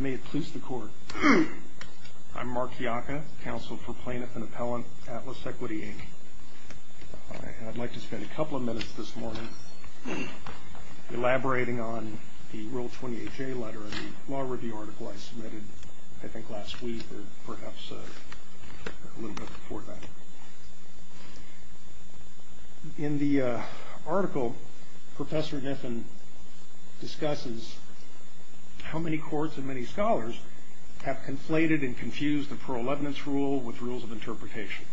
May it please the Court, I'm Mark Iacca, Counsel for Plaintiff and Appellant, Atlas Equity, Inc. I'd like to spend a couple of minutes this morning elaborating on the Rule 28J letter in the law review article I submitted, I think, last week or perhaps a little bit before that. In the article, Professor Niffen discusses how many courts and many scholars have conflated and confused the ProLevenance Rule with Rules of Interpretation.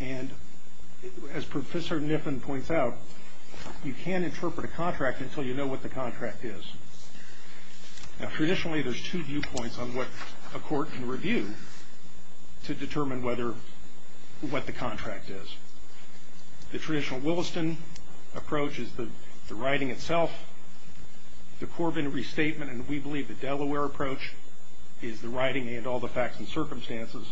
And, as Professor Niffen points out, you can interpret a contract until you know what the contract is. Now, traditionally, there's two viewpoints on what a court can review to determine what the contract is. The traditional Williston approach is the writing itself. The Corbin restatement, and we believe the Delaware approach, is the writing and all the facts and circumstances.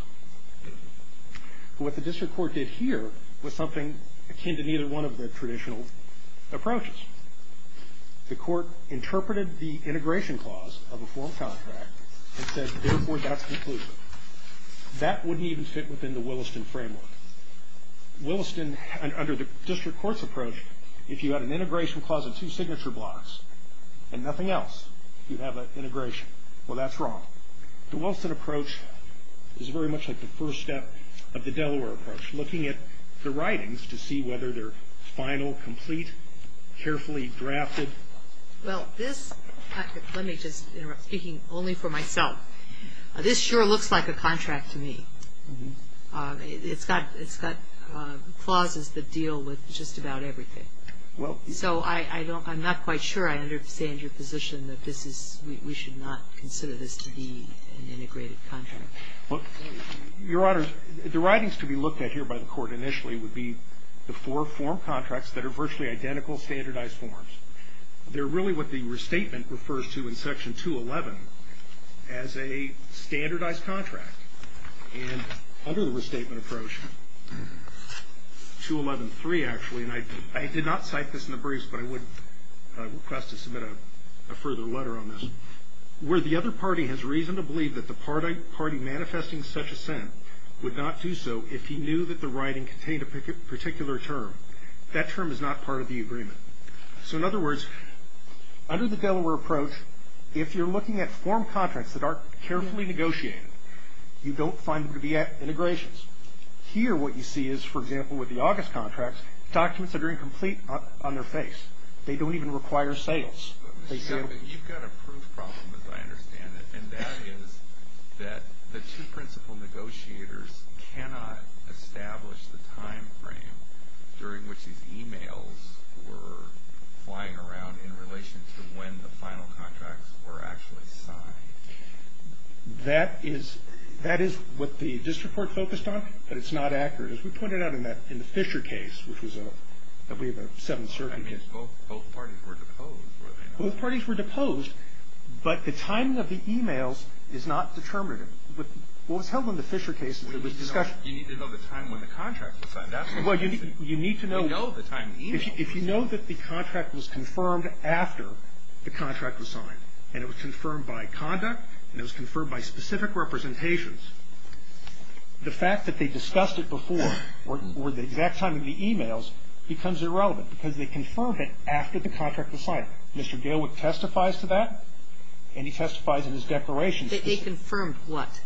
What the district court did here was something akin to neither one of the traditional approaches. The court interpreted the integration clause of a form contract and said, therefore, that's conclusive. That wouldn't even fit within the Williston framework. Williston, under the district court's approach, if you had an integration clause and two signature blocks and nothing else, you'd have an integration. Well, that's wrong. The Williston approach is very much like the first step of the Delaware approach, looking at the writings to see whether they're final, complete, carefully drafted. Well, this, let me just interrupt, speaking only for myself, this sure looks like a contract to me. It's got clauses that deal with just about everything. So I don't, I'm not quite sure I understand your position that this is, we should not consider this to be an integrated contract. Well, Your Honors, the writings to be looked at here by the court initially would be the four form contracts that are virtually identical standardized forms. They're really what the restatement refers to in Section 211 as a standardized contract. And under the restatement approach, 211.3, actually, and I did not cite this in the briefs, but I would request to submit a further letter on this, where the other party has reason to believe that the party manifesting such assent would not do so if he knew that the writing contained a particular term. That term is not part of the agreement. So in other words, under the Delaware approach, if you're looking at form contracts that aren't carefully negotiated, you don't find them to be integrations. Here what you see is, for example, with the August contracts, documents that are incomplete on their face. They don't even require sales. You've got a proof problem, as I understand it. And that is that the two principal negotiators cannot establish the time frame during which these e-mails were flying around in relation to when the final contracts were actually signed. That is what the district court focused on, but it's not accurate. As we pointed out in the Fisher case, which was a 7th Circuit case. Both parties were deposed. Both parties were deposed, but the timing of the e-mails is not determinative. What was held in the Fisher case was a discussion. You need to know the time when the contract was signed. Well, you need to know. You know the time of the e-mail. If you know that the contract was confirmed after the contract was signed, and it was confirmed by conduct, and it was confirmed by specific representations, the fact that they discussed it before or the exact time of the e-mails becomes irrelevant because they confirmed it after the contract was signed. Mr. Gailwick testifies to that, and he testifies in his declaration. That they confirmed what?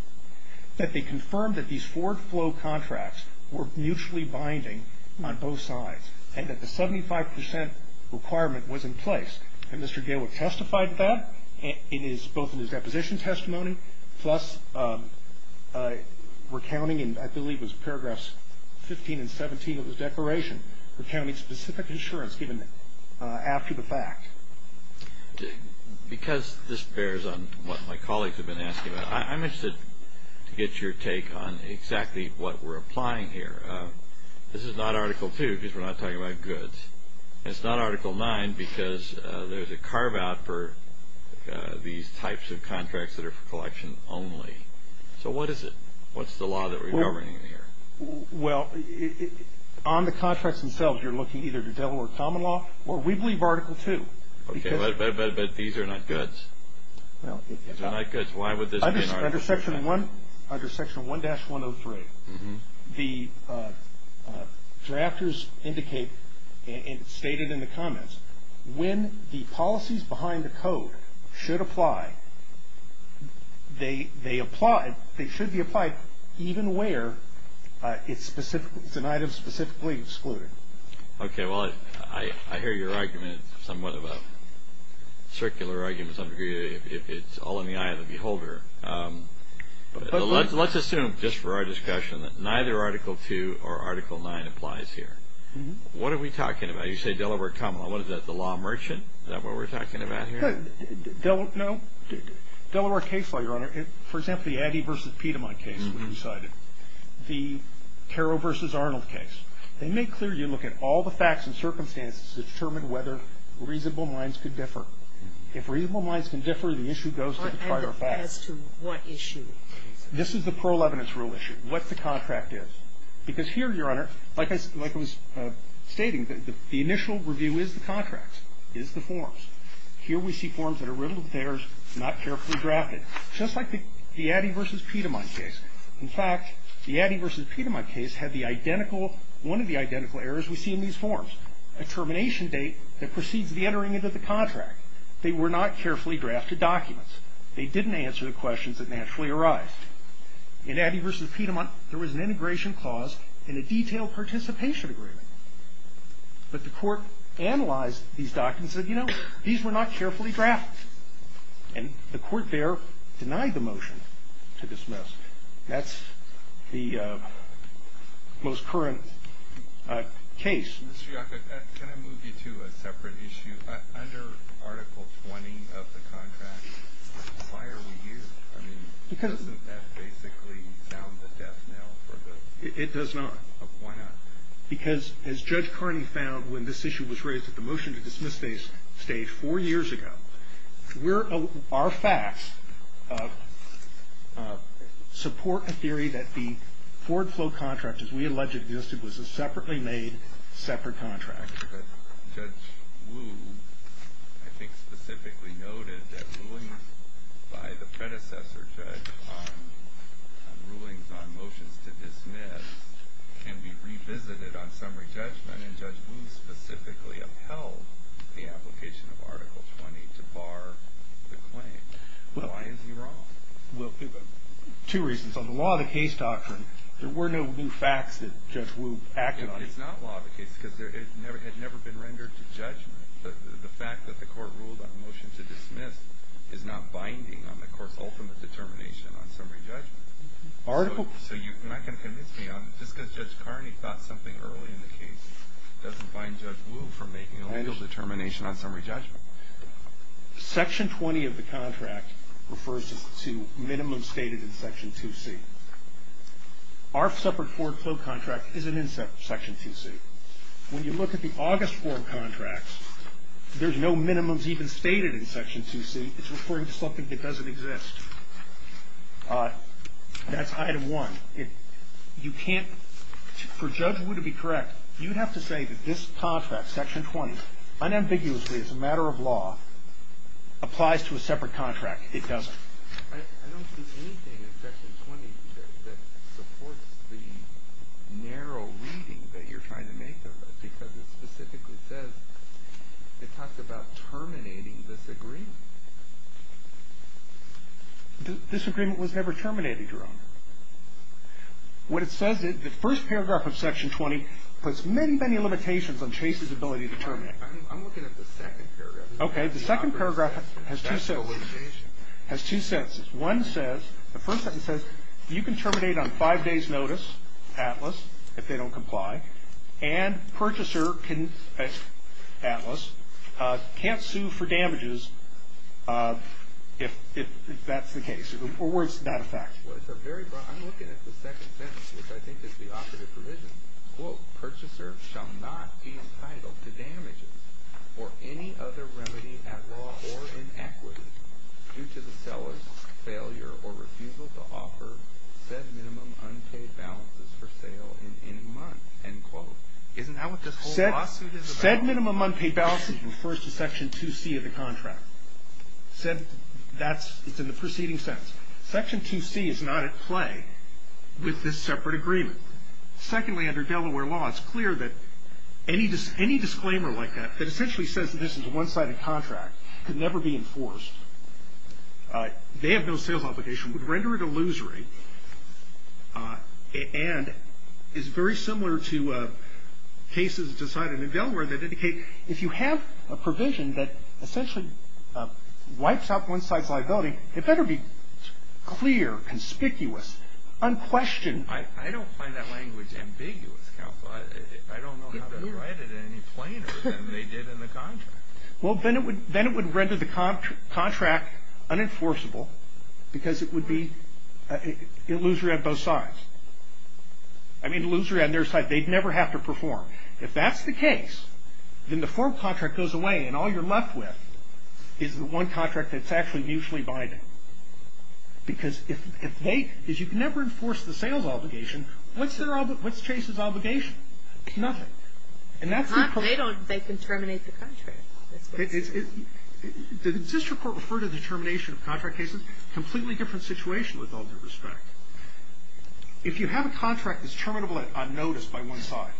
That they confirmed that these Ford Flow contracts were mutually binding on both sides and that the 75 percent requirement was in place. And Mr. Gailwick testified to that, both in his deposition testimony, plus recounting, and I believe it was paragraphs 15 and 17 of his declaration, recounting specific insurance given after the fact. Because this bears on what my colleagues have been asking about, I'm interested to get your take on exactly what we're applying here. This is not Article 2 because we're not talking about goods. It's not Article 9 because there's a carve-out for these types of contracts that are for collection only. So what is it? What's the law that we're governing here? Well, on the contracts themselves, you're looking either to Delaware common law, or we believe Article 2. Okay, but these are not goods. Why would this be an Article 2? Under Section 1-103, the drafters indicate and stated in the comments, when the policies behind the code should apply, they should be applied even where it's an item specifically excluded. Okay, well, I hear your argument somewhat of a circular argument, to some degree, if it's all in the eye of the beholder. But let's assume, just for our discussion, that neither Article 2 or Article 9 applies here. What are we talking about? You say Delaware common law. What is that, the law merchant? Is that what we're talking about here? No. Delaware case law, Your Honor, for example, the Addy v. Piedmont case that we cited, the Carroll v. Arnold case. They make clear you look at all the facts and circumstances to determine whether reasonable minds could differ. If reasonable minds can differ, the issue goes to the prior facts. As to what issue? This is the parole evidence rule issue, what the contract is. Because here, Your Honor, like I was stating, the initial review is the contracts, is the forms. Here we see forms that are riddled with errors, not carefully drafted, just like the Addy v. Piedmont case. In fact, the Addy v. Piedmont case had one of the identical errors we see in these forms, a termination date that precedes the entering into the contract. They were not carefully drafted documents. They didn't answer the questions that naturally arise. In Addy v. Piedmont, there was an integration clause and a detailed participation agreement. But the court analyzed these documents and said, you know, these were not carefully drafted. And the court there denied the motion to dismiss. That's the most current case. Mr. Yockett, can I move you to a separate issue? Under Article 20 of the contract, why are we here? I mean, doesn't that basically sound the death knell for the ---- It does not. Why not? Well, I mean, we're here to support a theory that the forward-flow contract, as we alleged, was a separately made, separate contract. But Judge Wu, I think, specifically noted that rulings by the predecessor judge on rulings on motions to dismiss can be revisited on summary judgment. And then Judge Wu specifically upheld the application of Article 20 to bar the claim. Why is he wrong? Well, two reasons. On the law of the case doctrine, there were no new facts that Judge Wu acted on. It's not law of the case because it had never been rendered to judgment. The fact that the court ruled on a motion to dismiss is not binding on the court's ultimate determination on summary judgment. So you're not going to convince me. Just because Judge Carney thought something early in the case doesn't bind Judge Wu from making a legal determination on summary judgment. Section 20 of the contract refers to minimums stated in Section 2C. Our separate forward-flow contract isn't in Section 2C. When you look at the August form contracts, there's no minimums even stated in Section 2C. It's referring to something that doesn't exist. That's item one. You can't, for Judge Wu to be correct, you'd have to say that this contract, Section 20, unambiguously as a matter of law, applies to a separate contract. It doesn't. I don't see anything in Section 20 that supports the narrow reading that you're trying to make of it because it specifically says, it talks about terminating This agreement was never terminated, Your Honor. When it says it, the first paragraph of Section 20 puts many, many limitations on Chase's ability to terminate. I'm looking at the second paragraph. Okay. The second paragraph has two sentences. Has two sentences. One says, the first sentence says, you can terminate on five days notice, Atlas, if they don't comply. And purchaser, Atlas, can't sue for damages if that's the case. Or where it's not a fact. Well, it's a very broad, I'm looking at the second sentence, which I think is the operative provision. Quote, purchaser shall not be entitled to damages or any other remedy at law or in equity due to the seller's failure or refusal to offer said minimum unpaid balances for sale in any month. End quote. Isn't that what this whole lawsuit is about? Said minimum unpaid balances refers to Section 2C of the contract. Said, that's, it's in the preceding sentence. Section 2C is not at play with this separate agreement. Secondly, under Delaware law, it's clear that any disclaimer like that, that essentially says that this is a one-sided contract, could never be enforced. They have no sales obligation would render it illusory. And is very similar to cases decided in Delaware that indicate, if you have a provision that essentially wipes out one side's liability, it better be clear, conspicuous, unquestioned. I don't find that language ambiguous, counsel. I don't know how to write it any plainer than they did in the contract. Well, then it would render the contract unenforceable because it would be illusory on both sides. I mean, illusory on their side. They'd never have to perform. If that's the case, then the form contract goes away, and all you're left with is the one contract that's actually mutually binding. Because if they, if you can never enforce the sales obligation, what's Chase's obligation? Nothing. And that's the problem. They don't, they can terminate the contract. Did the district court refer to the termination of contract cases? Completely different situation with all due respect. If you have a contract that's terminable on notice by one side,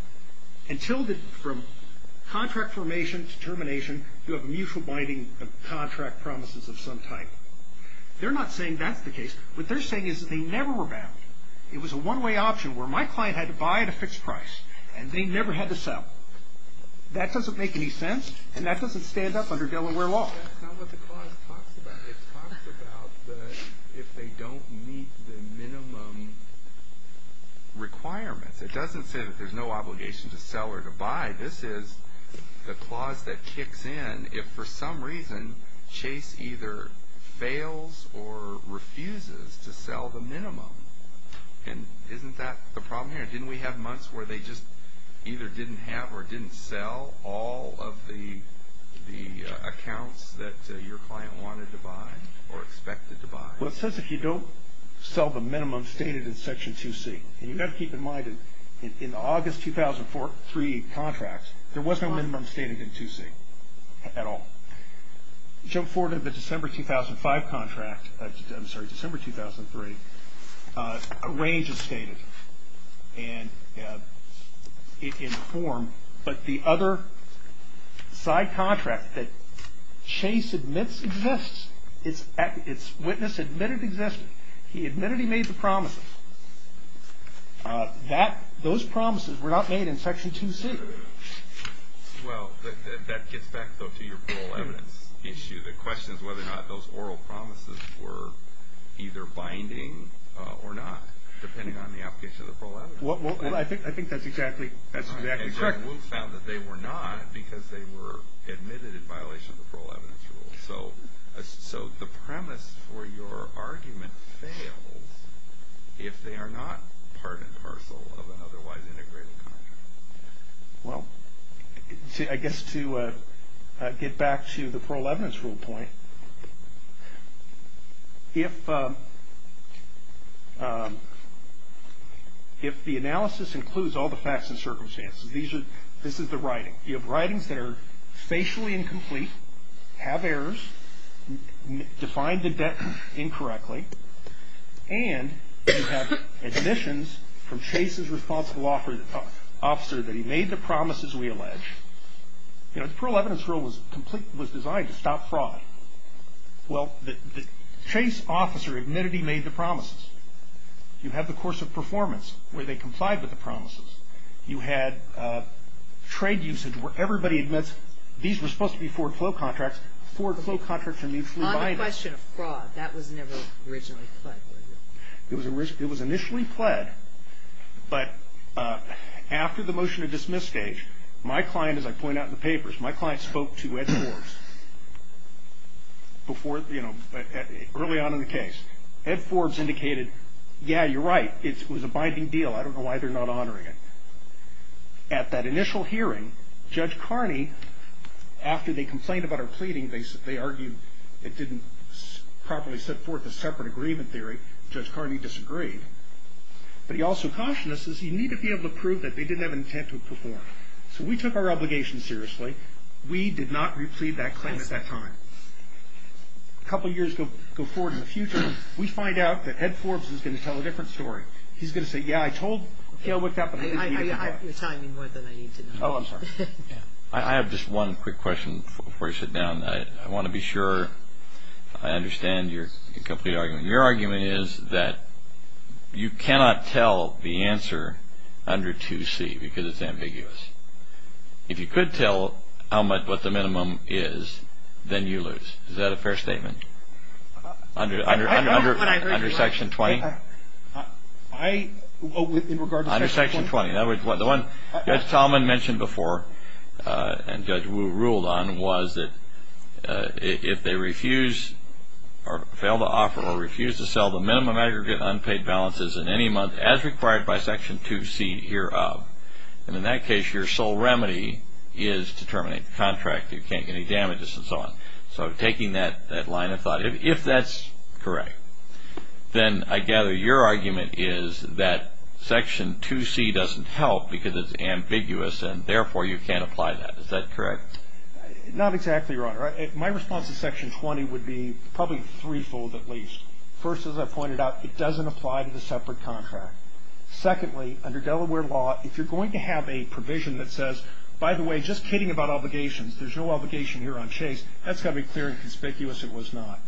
until the, from contract formation to termination, you have a mutual binding of contract promises of some type. They're not saying that's the case. What they're saying is that they never were bound. It was a one-way option where my client had to buy at a fixed price, and they never had to sell. That doesn't make any sense, and that doesn't stand up under Delaware law. That's not what the clause talks about. It talks about the, if they don't meet the minimum requirements. It doesn't say that there's no obligation to sell or to buy. This is the clause that kicks in if, for some reason, Chase either fails or refuses to sell the minimum. And isn't that the problem here? Didn't we have months where they just either didn't have or didn't sell all of the accounts that your client wanted to buy or expected to buy? Well, it says if you don't sell the minimum stated in Section 2C. And you've got to keep in mind that in the August 2003 contracts, there was no minimum stated in 2C at all. Jump forward to the December 2005 contract, I'm sorry, December 2003, a range is stated in the form. But the other side contract that Chase admits exists, its witness admitted it existed. He admitted he made the promises. Those promises were not made in Section 2C. Well, that gets back, though, to your parole evidence issue. The question is whether or not those oral promises were either binding or not, depending on the application of the parole evidence rule. Well, I think that's exactly correct. And we found that they were not because they were admitted in violation of the parole evidence rule. So the premise for your argument fails if they are not part and parcel of an otherwise integrated contract. Well, I guess to get back to the parole evidence rule point, if the analysis includes all the facts and circumstances, this is the writing. You have writings that are facially incomplete, have errors, define the debt incorrectly, and you have admissions from Chase's responsible officer that he made the promises we allege. You know, the parole evidence rule was designed to stop fraud. Well, the Chase officer admitted he made the promises. You have the course of performance where they complied with the promises. You had trade usage where everybody admits these were supposed to be forward flow contracts. Forward flow contracts are mutually binding. On the question of fraud, that was never originally pled. It was initially pled, but after the motion to dismiss stage, my client, as I point out in the papers, my client spoke to Ed Forbes before, you know, early on in the case. Ed Forbes indicated, yeah, you're right. It was a binding deal. I don't know why they're not honoring it. At that initial hearing, Judge Carney, after they complained about our pleading, they argued it didn't properly set forth a separate agreement theory. Judge Carney disagreed. But he also cautioned us, he said, you need to be able to prove that they didn't have intent to perform. So we took our obligation seriously. We did not replead that claim at that time. A couple years go forward in the future, we find out that Ed Forbes is going to tell a different story. He's going to say, yeah, I told Gil what happened. You're telling me more than I need to know. Oh, I'm sorry. I have just one quick question before you sit down. I want to be sure I understand your complete argument. Your argument is that you cannot tell the answer under 2C because it's ambiguous. If you could tell what the minimum is, then you lose. Is that a fair statement? Under Section 20? In regard to Section 20? Under Section 20. The one Judge Talman mentioned before and Judge Wu ruled on was that if they refuse or fail to offer or refuse to sell the minimum aggregate unpaid balances in any month as required by Section 2C hereof, then in that case your sole remedy is to terminate the contract. You can't get any damages and so on. So taking that line of thought, if that's correct, then I gather your argument is that Section 2C doesn't help because it's ambiguous and therefore you can't apply that. Is that correct? Not exactly, Your Honor. My response to Section 20 would be probably threefold at least. First, as I pointed out, it doesn't apply to the separate contract. Secondly, under Delaware law, if you're going to have a provision that says, by the way, just kidding about obligations. There's no obligation here on Chase. That's got to be clear and conspicuous. It was not.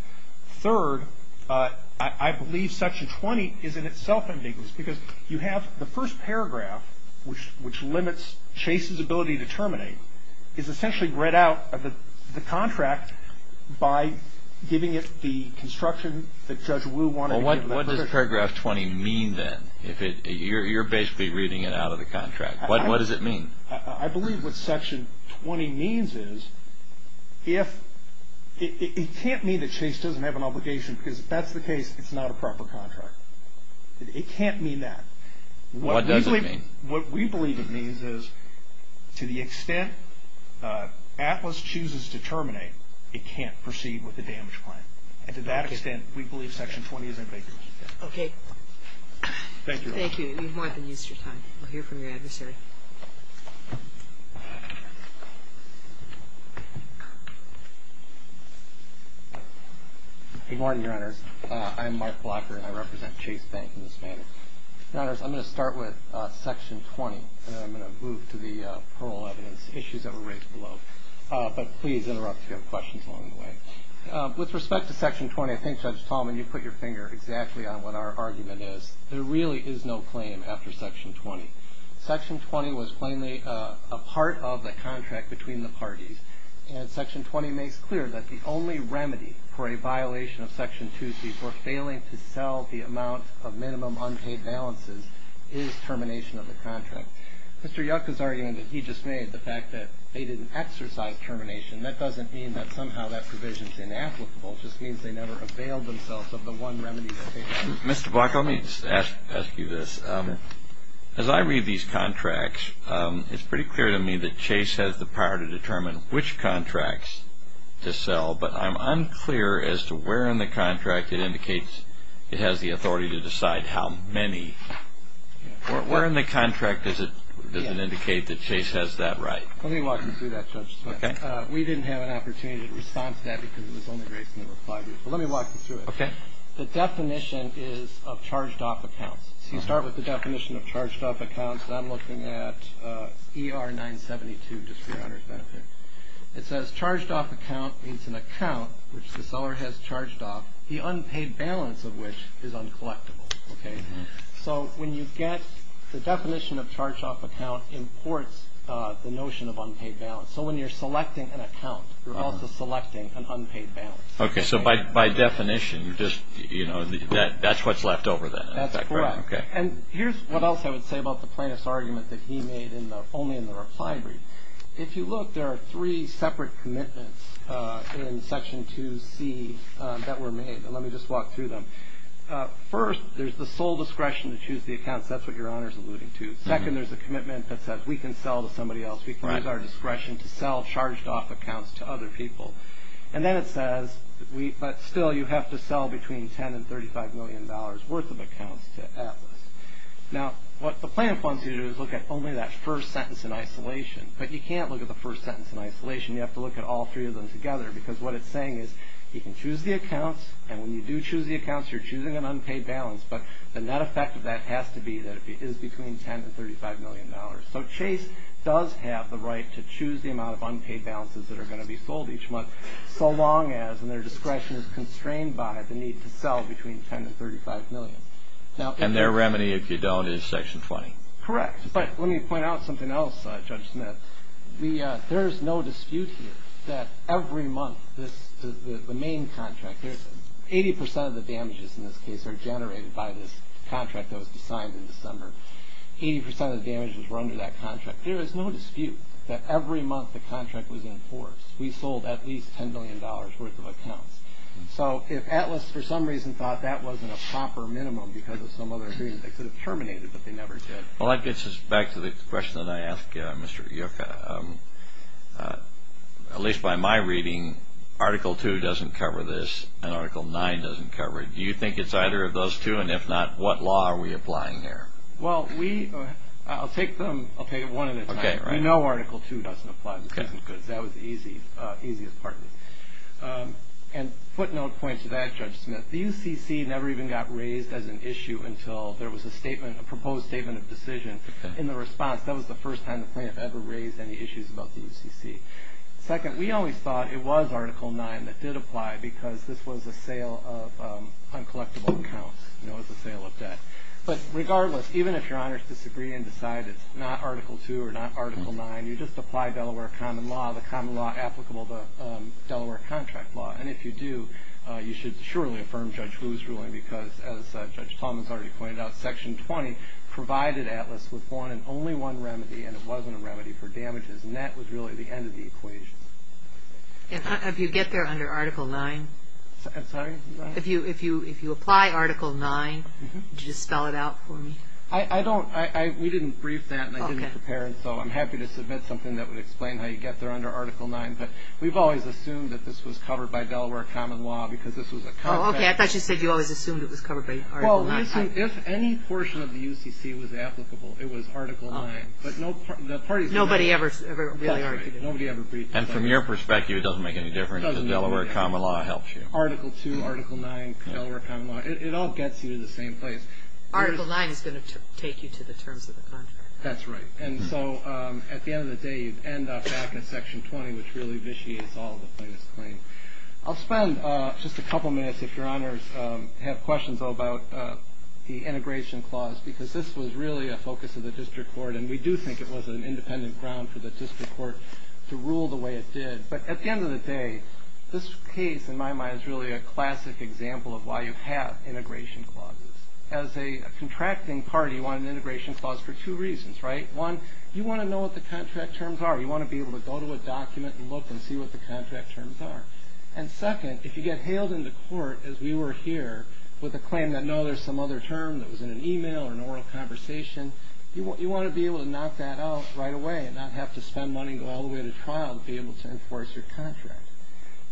Third, I believe Section 20 is in itself ambiguous because you have the first paragraph, which limits Chase's ability to terminate, is essentially read out of the contract by giving it the construction that Judge Wu wanted. Well, what does Paragraph 20 mean then? You're basically reading it out of the contract. What does it mean? I believe what Section 20 means is it can't mean that Chase doesn't have an obligation because if that's the case, it's not a proper contract. It can't mean that. What does it mean? What we believe it means is to the extent Atlas chooses to terminate, it can't proceed with the damage plan. And to that extent, we believe Section 20 is ambiguous. Okay. Thank you, Your Honor. Thank you. You've more than used your time. We'll hear from your adversary. Good morning, Your Honors. I'm Mark Blocker, and I represent Chase Bank in this manner. Your Honors, I'm going to start with Section 20, and then I'm going to move to the parole evidence issues that were raised below. But please interrupt if you have questions along the way. With respect to Section 20, I think, Judge Tallman, you put your finger exactly on what our argument is. There really is no claim after Section 20. Section 20 was plainly a part of the contract between the parties, and Section 20 makes clear that the only remedy for a violation of Section 2C for failing to sell the amount of minimum unpaid balances is termination of the contract. Mr. Yucca's argument that he just made, the fact that they didn't exercise termination, that doesn't mean that somehow that provision is inapplicable. It just means they never availed themselves of the one remedy. Mr. Blocker, let me just ask you this. As I read these contracts, it's pretty clear to me that Chase has the power to determine which contracts to sell, but I'm unclear as to where in the contract it indicates it has the authority to decide how many. Where in the contract does it indicate that Chase has that right? Let me walk you through that, Judge. We didn't have an opportunity to respond to that because it was only grace and there were five years. But let me walk you through it. Okay. The definition is of charged-off accounts. So you start with the definition of charged-off accounts, and I'm looking at ER 972, just for your understanding. It says, Charged-off account means an account which the seller has charged off, the unpaid balance of which is uncollectible. So when you get the definition of charged-off account imports the notion of unpaid balance. So when you're selecting an account, you're also selecting an unpaid balance. Okay. So by definition, that's what's left over then. That's correct. And here's what else I would say about the plaintiff's argument that he made only in the reply brief. If you look, there are three separate commitments in Section 2C that were made, and let me just walk through them. First, there's the sole discretion to choose the accounts. That's what your Honor is alluding to. Second, there's a commitment that says we can sell to somebody else. We can use our discretion to sell charged-off accounts to other people. And then it says, but still, you have to sell between $10 and $35 million worth of accounts to Atlas. Now, what the plaintiff wants you to do is look at only that first sentence in isolation, but you can't look at the first sentence in isolation. You have to look at all three of them together, because what it's saying is you can choose the accounts, and when you do choose the accounts, you're choosing an unpaid balance, but the net effect of that has to be that it is between $10 and $35 million. So Chase does have the right to choose the amount of unpaid balances that are going to be sold each month, so long as their discretion is constrained by the need to sell between $10 and $35 million. And their remedy, if you don't, is Section 20. Correct, but let me point out something else, Judge Smith. There is no dispute here that every month, the main contract, 80% of the damages in this case are generated by this contract that was signed in December. 80% of the damages were under that contract. There is no dispute that every month, the contract was enforced. We sold at least $10 million worth of accounts. So if Atlas, for some reason, thought that wasn't a proper minimum because of some other agreement, they could have terminated it, but they never did. Well, that gets us back to the question that I asked Mr. Yucca. At least by my reading, Article 2 doesn't cover this, and Article 9 doesn't cover it. Do you think it's either of those two, and if not, what law are we applying here? Well, I'll take them one at a time. We know Article 2 doesn't apply because that was the easiest part of it. And footnote points to that, Judge Smith. The UCC never even got raised as an issue until there was a proposed statement of decision. In the response, that was the first time the plaintiff ever raised any issues about the UCC. Second, we always thought it was Article 9 that did apply because this was a sale of uncollectible accounts. It was a sale of debt. But regardless, even if your honors disagree and decide it's not Article 2 or not Article 9, you just apply Delaware common law, the common law applicable to Delaware contract law. And if you do, you should surely affirm Judge Wu's ruling because, as Judge Tallman has already pointed out, Section 20 provided Atlas with one and only one remedy, and it wasn't a remedy for damages. And that was really the end of the equation. And if you get there under Article 9? I'm sorry? If you apply Article 9, would you just spell it out for me? I don't. We didn't brief that, and I didn't prepare it, so I'm happy to submit something that would explain how you get there under Article 9. But we've always assumed that this was covered by Delaware common law because this was a contract. Oh, okay. I thought you said you always assumed it was covered by Article 9. Well, we assumed if any portion of the UCC was applicable, it was Article 9. Nobody ever really argued it. And from your perspective, it doesn't make any difference if Delaware common law helps you. Article 2, Article 9, Delaware common law, it all gets you to the same place. Article 9 is going to take you to the terms of the contract. That's right. And so at the end of the day, you end up back in Section 20, which really vitiates all the plaintiffs' claims. I'll spend just a couple minutes, if Your Honors have questions about the integration clause, because this was really a focus of the district court, and we do think it was an independent ground for the district court to rule the way it did. But at the end of the day, this case, in my mind, is really a classic example of why you have integration clauses. As a contracting party, you want an integration clause for two reasons, right? One, you want to know what the contract terms are. You want to be able to go to a document and look and see what the contract terms are. And second, if you get hailed into court, as we were here, with a claim that, no, there's some other term that was in an e-mail or an oral conversation, you want to be able to knock that out right away and not have to spend money and go all the way to trial to be able to enforce your contract.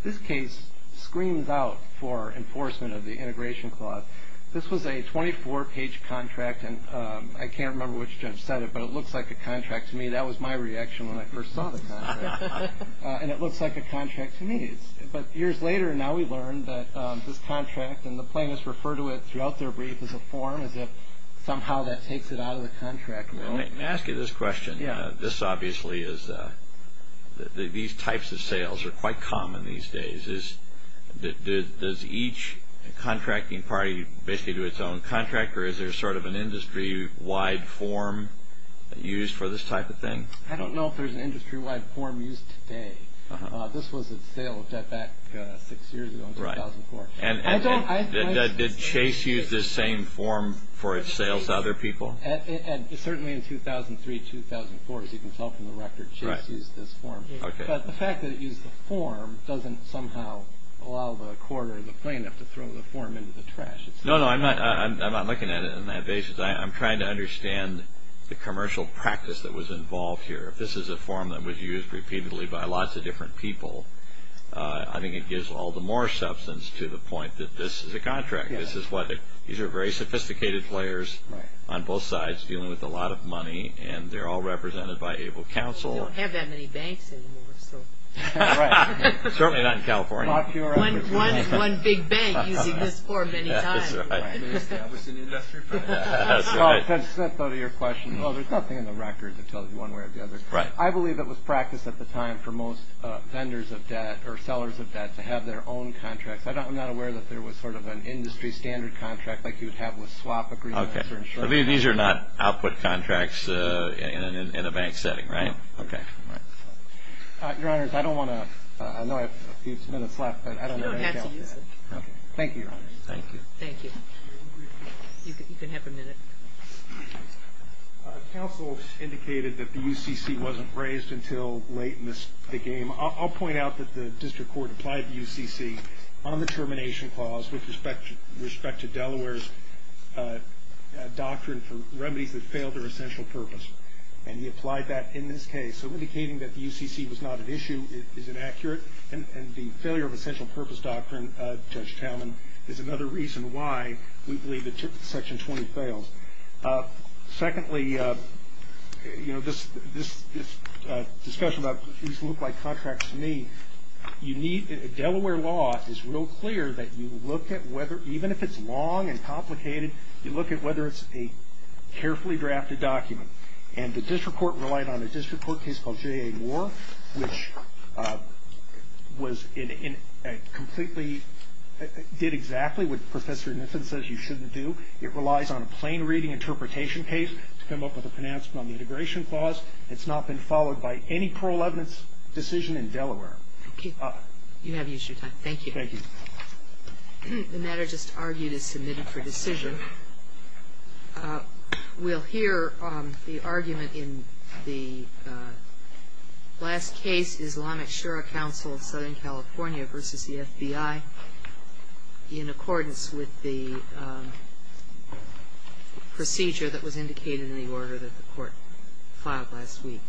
This case screams out for enforcement of the integration clause. This was a 24-page contract, and I can't remember which judge said it, but it looks like a contract to me. That was my reaction when I first saw the contract. And it looks like a contract to me. But years later, now we learn that this contract, and the plaintiffs refer to it throughout their brief as a form, as if somehow that takes it out of the contract realm. Let me ask you this question. Yeah. This obviously is, these types of sales are quite common these days. Does each contracting party basically do its own contract, or is there sort of an industry-wide form used for this type of thing? I don't know if there's an industry-wide form used today. This was at sale of Jetpack six years ago in 2004. And did Chase use this same form for its sales to other people? Certainly in 2003, 2004, as you can tell from the record, Chase used this form. But the fact that it used the form doesn't somehow allow the court or the plaintiff to throw the form into the trash. No, no, I'm not looking at it on that basis. I'm trying to understand the commercial practice that was involved here. If this is a form that was used repeatedly by lots of different people, I think it gives all the more substance to the point that this is a contract. This is what, these are very sophisticated players on both sides, dealing with a lot of money, and they're all represented by Able Counsel. We don't have that many banks anymore, so. Right. Certainly not in California. Not here either. One big bank using this form many times. That's right. They establish an industry firm. That's right. Well, there's nothing in the record that tells you one way or the other. Right. I believe it was practiced at the time for most vendors of debt or sellers of debt to have their own contracts. I'm not aware that there was sort of an industry standard contract like you would have with swap agreements or insurance. Okay. These are not output contracts in a bank setting, right? No. Okay. Your Honors, I don't want to, I know I have a few minutes left, but I don't know. You don't have to use it. Okay. Thank you, Your Honors. Thank you. Thank you. You can have a minute. Counsel indicated that the UCC wasn't raised until late in the game. I'll point out that the district court applied the UCC on the termination clause with respect to Delaware's doctrine for remedies that failed their essential purpose. And he applied that in this case. So indicating that the UCC was not an issue is inaccurate. And the failure of essential purpose doctrine, Judge Talman, is another reason why we believe that Section 20 fails. Secondly, you know, this discussion about these look like contracts to me, you need, Delaware law is real clear that you look at whether, even if it's long and complicated, you look at whether it's a carefully drafted document. And the district court relied on a district court case called J.A. Moore, which was completely, did exactly what Professor Niffen says you shouldn't do. It relies on a plain reading interpretation case to come up with a pronouncement on the integration clause. It's not been followed by any parole evidence decision in Delaware. Thank you. You have used your time. Thank you. Thank you. The matter just argued is submitted for decision. We'll hear the argument in the last case, Islamic Shura Council of Southern California versus the FBI, in accordance with the procedure that was indicated in the order that the court filed last week. Thank you.